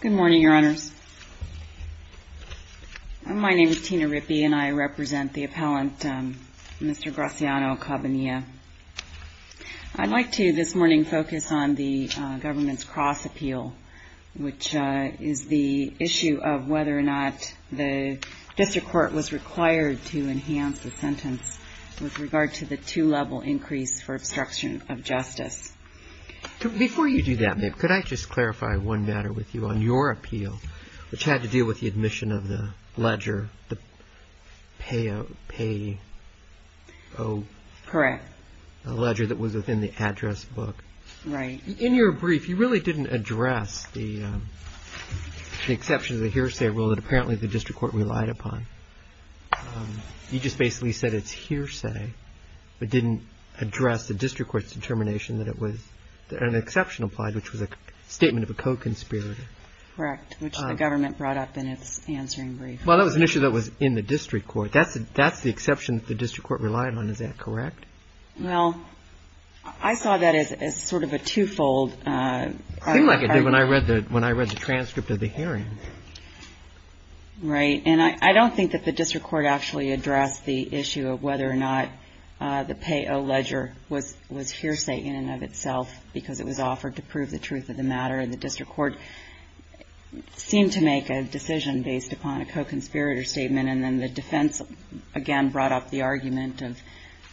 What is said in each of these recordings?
Good morning, Your Honors. My name is Tina Rippey, and I represent the appellant, Mr. Graciano-Cabanilla. I'd like to, this morning, focus on the government's cross-appeal, which is the issue of whether or not the district court was required to enhance the sentence with regard to the two-level increase for obstruction of justice. Before you do that, ma'am, could I just clarify one matter with you on your appeal, which had to do with the admission of the ledger, the Payo ledger that was within the address book? Right. In your brief, you really didn't address the exception to the hearsay rule that apparently the district court relied upon. You just basically said it's hearsay, but didn't address the district court's determination that it was an exception applied, which was a statement of a co-conspirator. Correct, which the government brought up in its answering brief. Well, that was an issue that was in the district court. That's the exception that the district court relied on. Is that correct? Well, I saw that as sort of a two-fold argument. It seemed like it did when I read the transcript of the hearing. Right. And I don't think that the district court actually addressed the issue of whether or not the Payo ledger was hearsay in and of itself because it was offered to prove the truth of the matter. And the district court seemed to make a decision based upon a co-conspirator statement, and then the defense, again, brought up the argument of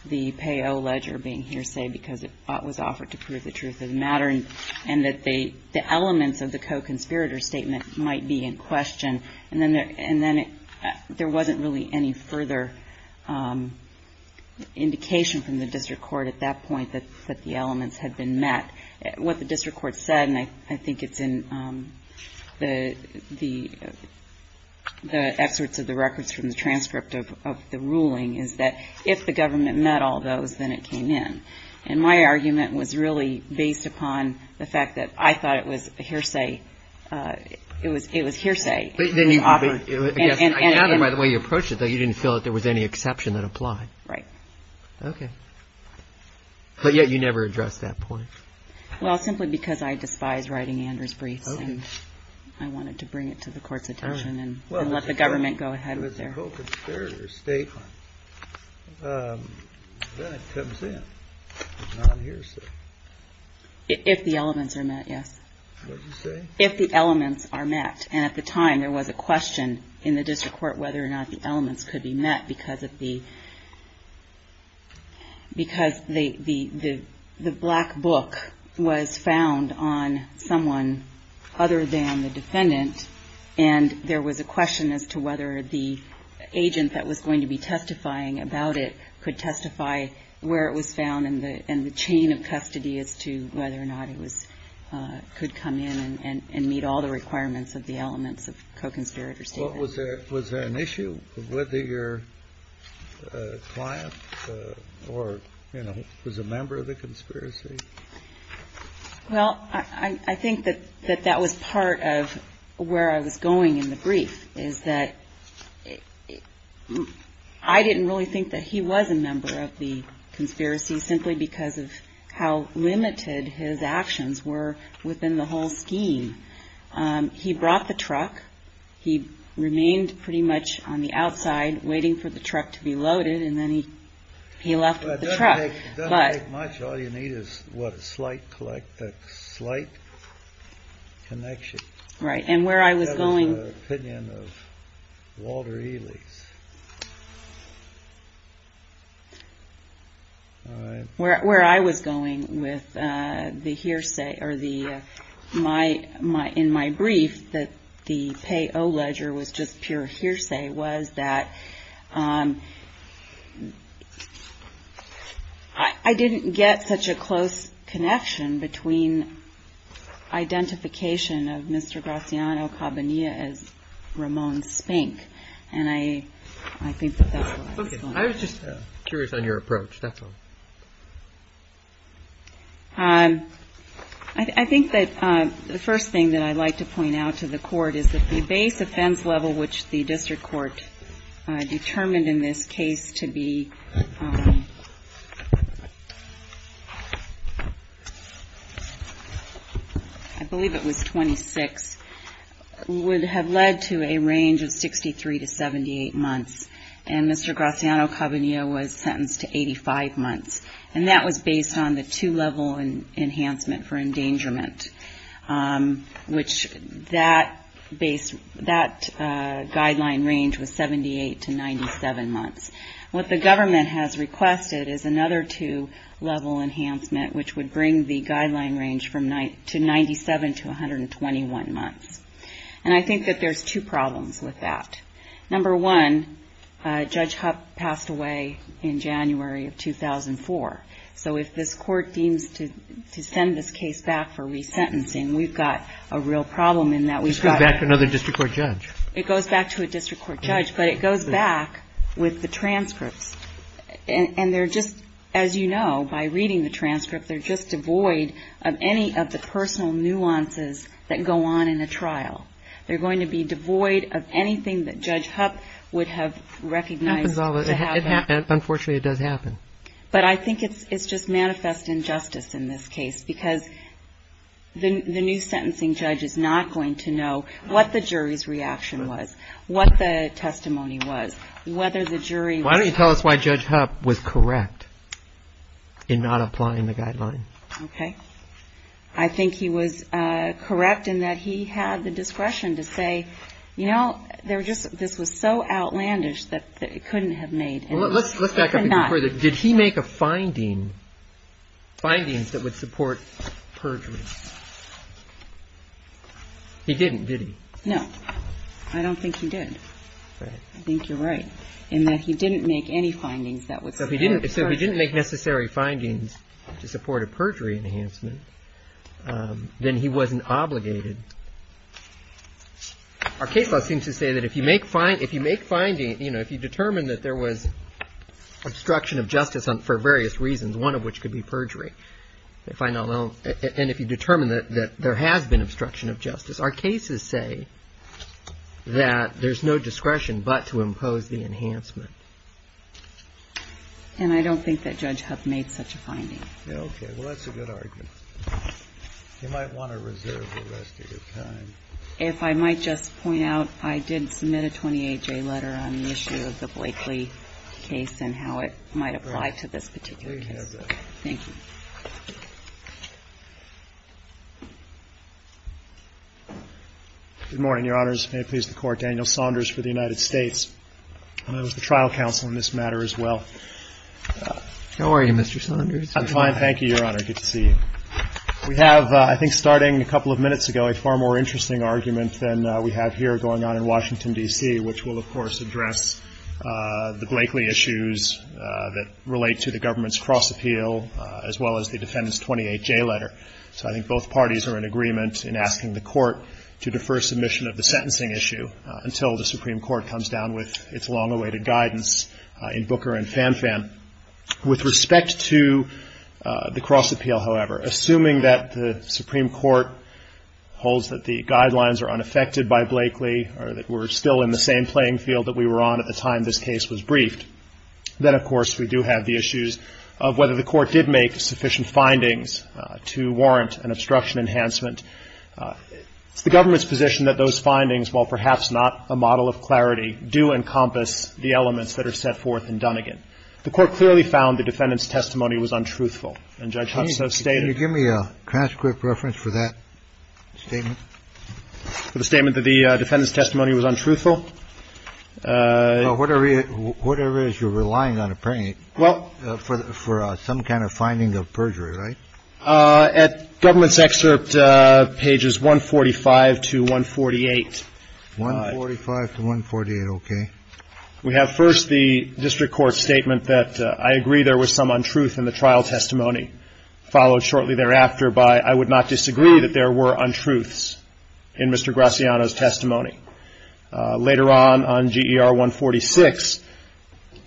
the Payo ledger being hearsay because it was offered to prove the truth of the And then there wasn't really any further indication from the district court at that point that the elements had been met. What the district court said, and I think it's in the excerpts of the records from the transcript of the ruling, is that if the government met all those, then it came in. And my argument was really based upon the fact that I thought it was hearsay. It was hearsay. I gather by the way you approached it, though, you didn't feel that there was any exception that applied. Right. Okay. But yet you never addressed that point. Well, simply because I despise writing Anders briefs, and I wanted to bring it to the court's attention and let the government go ahead with their co-conspirator statement, that comes in. It's not hearsay. If the elements are met, yes. What did you say? If the elements are met. And at the time, there was a question in the district court whether or not the elements could be met because the black book was found on someone other than the defendant. And there was a question as to whether the agent that was going to be testifying about it could testify where it was found and the chain of custody as to whether or not it was – could come in and meet all the requirements of the elements of co-conspirator statement. Was there an issue with your client or, you know, was a member of the conspiracy? Well, I think that that was part of where I was going in the brief, is that I didn't really think that he was a member of the conspiracy simply because of how limited his actions were within the whole scheme. He brought the truck. He remained pretty much on the outside waiting for the truck to be loaded, and then he left with the truck. It doesn't take much. All you need is, what, a slight connection. Right. And where I was going – That was an opinion of Walter Ely's. All right. Where I was going with the hearsay or the – in my brief, that the pay-o-ledger was just pure hearsay, was that I didn't get such a close connection between identification of Mr. Graziano-Cabanilla as Ramon Spink, and I think that that's where I was going. Okay. I was just curious on your approach. That's all. I think that the first thing that I'd like to point out to the Court is that the base offense level, which the district court determined in this case to be – I believe it was 26 – would have led to a range of 63 to 78 months. And Mr. Graziano-Cabanilla was sentenced to 85 months, and that was based on the two-level enhancement for endangerment, which that guideline range was 78 to 97 months. What the government has requested is another two-level enhancement, which would bring the guideline range to 97 to 121 months. And I think that there's two problems with that. Number one, Judge Hupp passed away in January of 2004. So if this Court deems to send this case back for resentencing, we've got a real problem in that we've got to – It goes back to another district court judge. It goes back to a district court judge, but it goes back with the transcripts. And they're just – as you know, by reading the transcripts, they're just devoid of any of the personal nuances that go on in a trial. They're going to be devoid of anything that Judge Hupp would have recognized to have happened. Unfortunately, it does happen. But I think it's just manifest injustice in this case, because the new sentencing judge is not going to know what the jury's reaction was, what the testimony was, whether the jury was – Why don't you tell us why Judge Hupp was correct in not applying the guideline? Okay. I think he was correct in that he had the discretion to say, you know, this was so outlandish that it couldn't have made – Well, let's back up a bit further. Did he make a finding – findings that would support perjury? He didn't, did he? No. I don't think he did. So if he didn't make necessary findings to support a perjury enhancement, then he wasn't obligated. Our case law seems to say that if you make findings – you know, if you determine that there was obstruction of justice for various reasons, one of which could be perjury, and if you determine that there has been obstruction of justice, our cases say that there's no discretion but to impose the enhancement. And I don't think that Judge Hupp made such a finding. Okay. Well, that's a good argument. You might want to reserve the rest of your time. If I might just point out, I did submit a 28-J letter on the issue of the Blakely case and how it might apply to this particular case. Please have that. Thank you. Good morning, Your Honors. May it please the Court. Daniel Saunders for the United States. And I was the trial counsel in this matter as well. How are you, Mr. Saunders? I'm fine. Thank you, Your Honor. Good to see you. We have, I think starting a couple of minutes ago, a far more interesting argument than we have here going on in Washington, D.C., which will, of course, address the Blakely issues that relate to the government's cross-appeal as well as the defendant's 28-J letter. So I think both parties are in agreement in asking the Court to defer submission of the sentencing issue until the Supreme Court comes down with its long-awaited guidance in Booker and Fanfan. With respect to the cross-appeal, however, assuming that the Supreme Court holds that the guidelines are unaffected by Blakely or that we're still in the same playing field that we were on at the time this case was briefed, then, of course, we do have the issues of whether the Court did make sufficient findings to warrant an obstruction enhancement. It's the government's position that those findings, while perhaps not a model of clarity, do encompass the elements that are set forth in Dunnegan. The Court clearly found the defendant's testimony was untruthful. And Judge Hudson has stated that. Can you give me a transcript reference for that statement? For the statement that the defendant's testimony was untruthful? Whatever it is, you're relying on a plaintiff for some kind of finding of perjury, right? At government's excerpt pages 145 to 148. 145 to 148, okay. We have first the district court's statement that, I agree there was some untruth in the trial testimony, followed shortly thereafter by, I would not disagree that there were untruths in Mr. Graciano's testimony. Later on, on GER 146,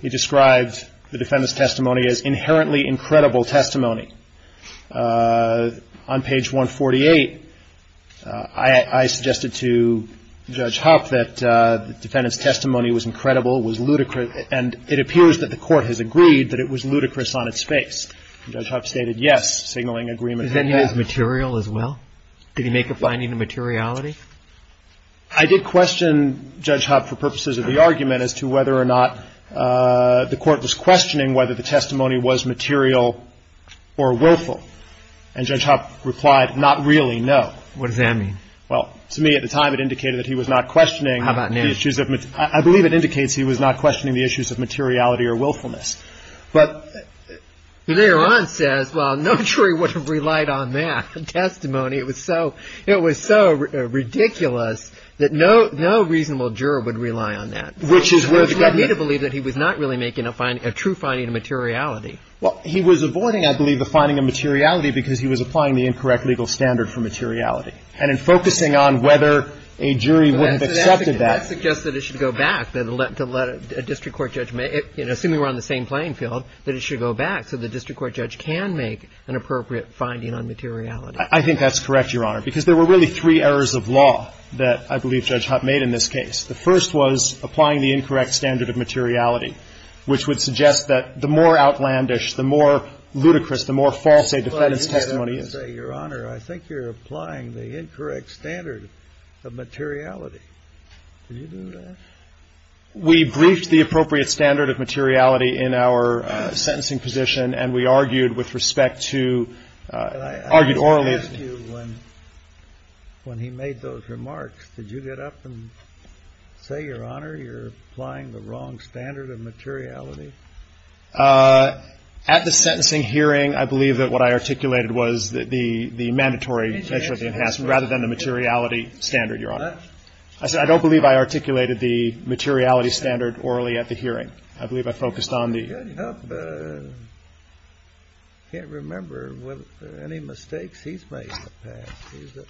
he describes the defendant's testimony as inherently incredible testimony. On page 148, I suggested to Judge Huff that the defendant's testimony was incredible, was ludicrous, and it appears that the Court has agreed that it was ludicrous on its face. Judge Huff stated yes, signaling agreement. Is that in his material as well? Did he make a finding of materiality? I did question Judge Huff for purposes of the argument as to whether or not the Court was questioning whether the testimony was material or willful. And Judge Huff replied, not really, no. What does that mean? Well, to me at the time it indicated that he was not questioning the issues of materiality. How about now? I believe it indicates he was not questioning the issues of materiality or willfulness. But later on says, well, no jury would have relied on that testimony. It was so, it was so ridiculous that no, no reasonable juror would rely on that. Which is where the government. Which led me to believe that he was not really making a finding, a true finding of materiality. Well, he was avoiding, I believe, the finding of materiality because he was applying the incorrect legal standard for materiality. And in focusing on whether a jury would have accepted that. That suggests that it should go back to let a district court judge, assuming we're on the same playing field, that it should go back so the district court judge can make an appropriate finding on materiality. I think that's correct, Your Honor. Because there were really three errors of law that I believe Judge Hutt made in this case. The first was applying the incorrect standard of materiality. Which would suggest that the more outlandish, the more ludicrous, the more false a defendant's testimony is. Your Honor, I think you're applying the incorrect standard of materiality. Did you do that? We briefed the appropriate standard of materiality in our sentencing position. And we argued with respect to, argued orally. When he made those remarks, did you get up and say, Your Honor, you're applying the wrong standard of materiality? At the sentencing hearing, I believe that what I articulated was the mandatory measure of the enhancement, rather than the materiality standard, Your Honor. I don't believe I articulated the materiality standard orally at the hearing. I believe I focused on the... Judge Hutt can't remember any mistakes he's made in the past. He's a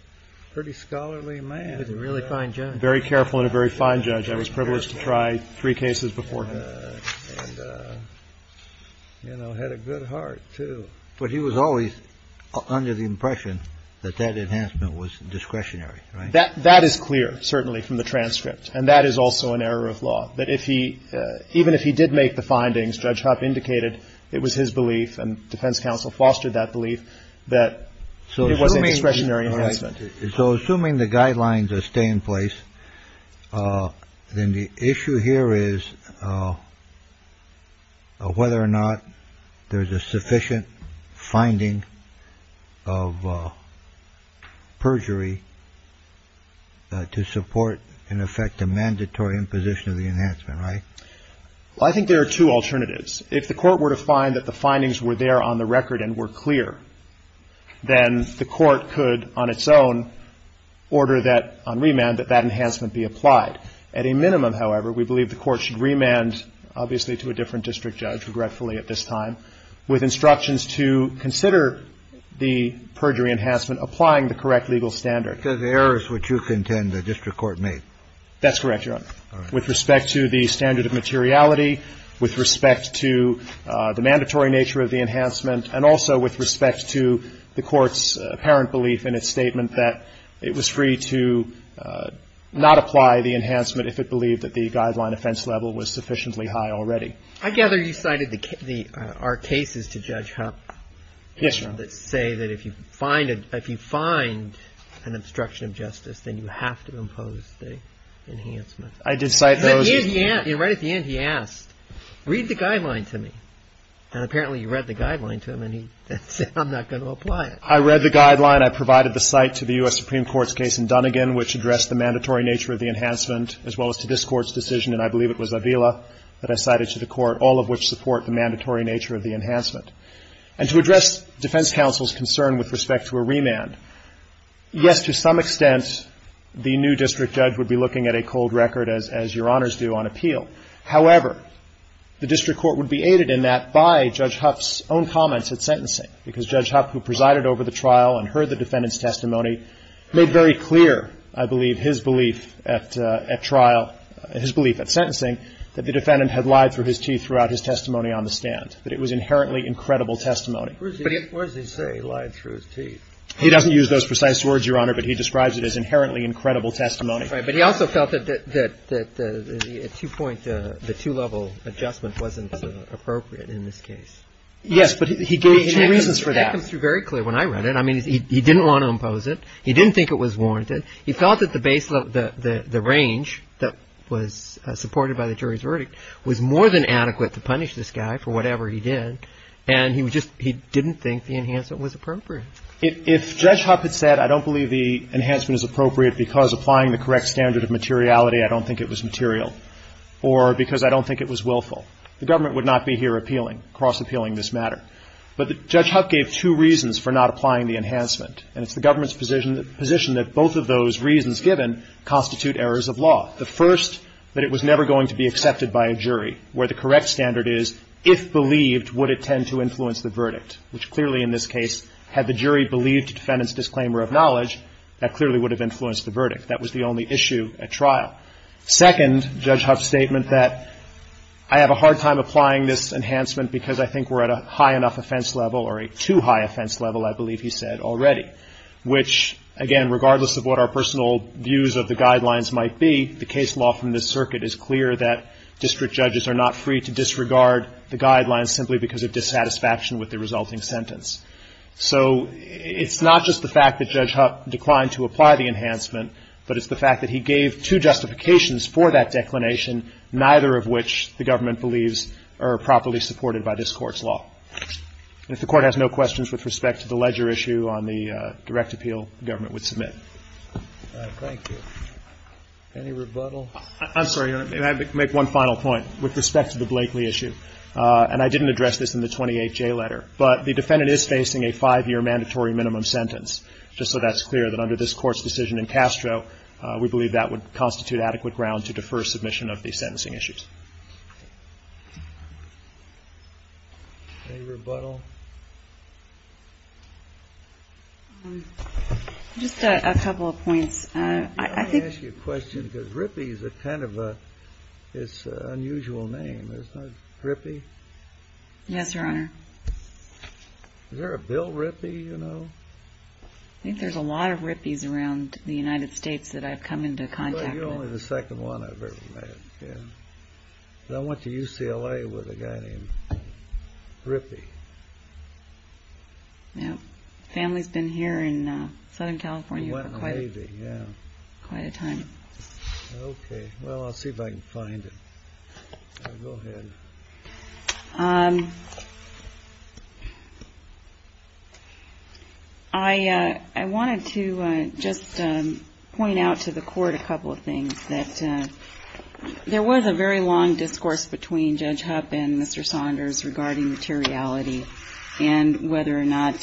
pretty scholarly man. He was a really fine judge. Very careful and a very fine judge. I was privileged to try three cases before him. And, you know, had a good heart, too. But he was always under the impression that that enhancement was discretionary, right? That is clear, certainly, from the transcript. And that is also an error of law. That if he, even if he did make the findings, Judge Hutt indicated it was his belief, and defense counsel fostered that belief, that it was a discretionary enhancement. So assuming the guidelines stay in place, then the issue here is whether or not there is a sufficient finding of perjury to support, in effect, a mandatory imposition of the enhancement, right? Well, I think there are two alternatives. If the Court were to find that the findings were there on the record and were clear, then the Court could, on its own, order that on remand, that that enhancement be applied. At a minimum, however, we believe the Court should remand, obviously to a different district judge, regretfully at this time, with instructions to consider the perjury enhancement, applying the correct legal standard. Yes, Your Honor. With respect to the errors which you contend the district court made? That's correct, Your Honor. All right. With respect to the standard of materiality, with respect to the mandatory nature of the enhancement, and also with respect to the Court's apparent belief in its statement that it was free to not apply the enhancement if it believed that the guideline offense level was sufficiently high already. I gather you cited our cases to Judge Hupp. Yes, Your Honor. That say that if you find an obstruction of justice, then you have to impose the enhancement. I did cite those. And right at the end, he asked, read the guideline to me. And apparently you read the guideline to him, and he said, I'm not going to apply it. I read the guideline. I provided the site to the U.S. Supreme Court's case in Dunnegan, which addressed the mandatory nature of the enhancement, as well as to this Court's decision, and I believe it was Avila that I cited to the Court, all of which support the mandatory nature of the enhancement. And to address defense counsel's concern with respect to a remand, yes, to some extent, the new district judge would be looking at a cold record, as Your Honors do, on appeal. However, the district court would be aided in that by Judge Hupp's own comments at sentencing, because Judge Hupp, who presided over the trial and heard the defendant's testimony, made very clear, I believe, his belief at trial, his belief at sentencing, that the defendant had lied through his teeth throughout his testimony on the stand, that it was inherently incredible testimony. But he also felt that the two-level adjustment wasn't appropriate in this case. Yes, but he gave two reasons for that. Well, that comes through very clear when I read it. I mean, he didn't want to impose it. He didn't think it was warranted. He felt that the range that was supported by the jury's verdict was more than adequate to punish this guy for whatever he did, and he didn't think the enhancement was appropriate. If Judge Hupp had said, I don't believe the enhancement is appropriate because applying the correct standard of materiality, I don't think it was material, or because I don't think it was willful, the government would not be here appealing, cross-appealing this matter. But Judge Hupp gave two reasons for not applying the enhancement, and it's the government's position that both of those reasons given constitute errors of law. The first, that it was never going to be accepted by a jury, where the correct standard is if believed, would it tend to influence the verdict, which clearly in this case had the jury believed the defendant's disclaimer of knowledge, that clearly would have influenced the verdict. That was the only issue at trial. Second, Judge Hupp's statement that I have a hard time applying this enhancement because I think we're at a high enough offense level or a too high offense level, I believe he said already, which, again, regardless of what our personal views of the guidelines might be, the case law from this circuit is clear that district judges are not free to disregard the guidelines simply because of dissatisfaction with the resulting sentence. So it's not just the fact that Judge Hupp declined to apply the enhancement, but it's the fact that he gave two justifications for that declination, neither of which the government believes are properly supported by this Court's law. And if the Court has no questions with respect to the ledger issue on the direct appeal, the government would submit. Thank you. Any rebuttal? I'm sorry. May I make one final point with respect to the Blakeley issue? And I didn't address this in the 28J letter, but the defendant is facing a five-year mandatory minimum sentence, just so that's clear that under this Court's decision in Castro, we believe that would constitute adequate ground to defer submission of these sentencing issues. Any rebuttal? Just a couple of points. May I ask you a question? Because Rippey is kind of an unusual name, isn't it? Rippey? Yes, Your Honor. Is there a Bill Rippey, you know? I think there's a lot of Rippeys around the United States that I've come into contact with. You're only the second one I've ever met, yeah. I went to UCLA with a guy named Rippey. Yeah. Family's been here in Southern California for quite a time. Went in the Navy, yeah. Quite a time. Okay. Well, I'll see if I can find it. Go ahead. I wanted to just point out to the Court a couple of things, that there was a very long discourse between Judge Hupp and Mr. Saunders regarding materiality and whether or not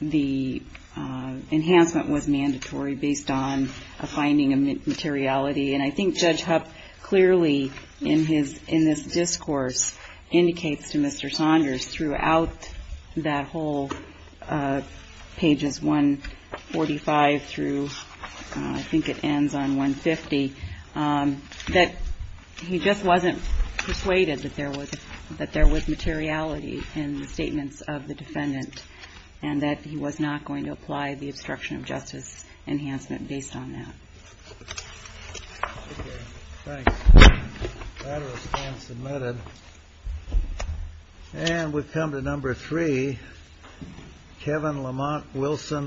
the enhancement was mandatory based on a finding of materiality. And I think Judge Hupp clearly in this discourse indicates to Mr. Saunders throughout that whole pages 145 through, I think it ends on 150, that he just wasn't persuaded that there was materiality in the statements of the defendant and that he was not going to apply the obstruction of justice enhancement based on that. Okay. Thanks. That response is admitted. And we've come to number three. Kevin Lamont Wilson.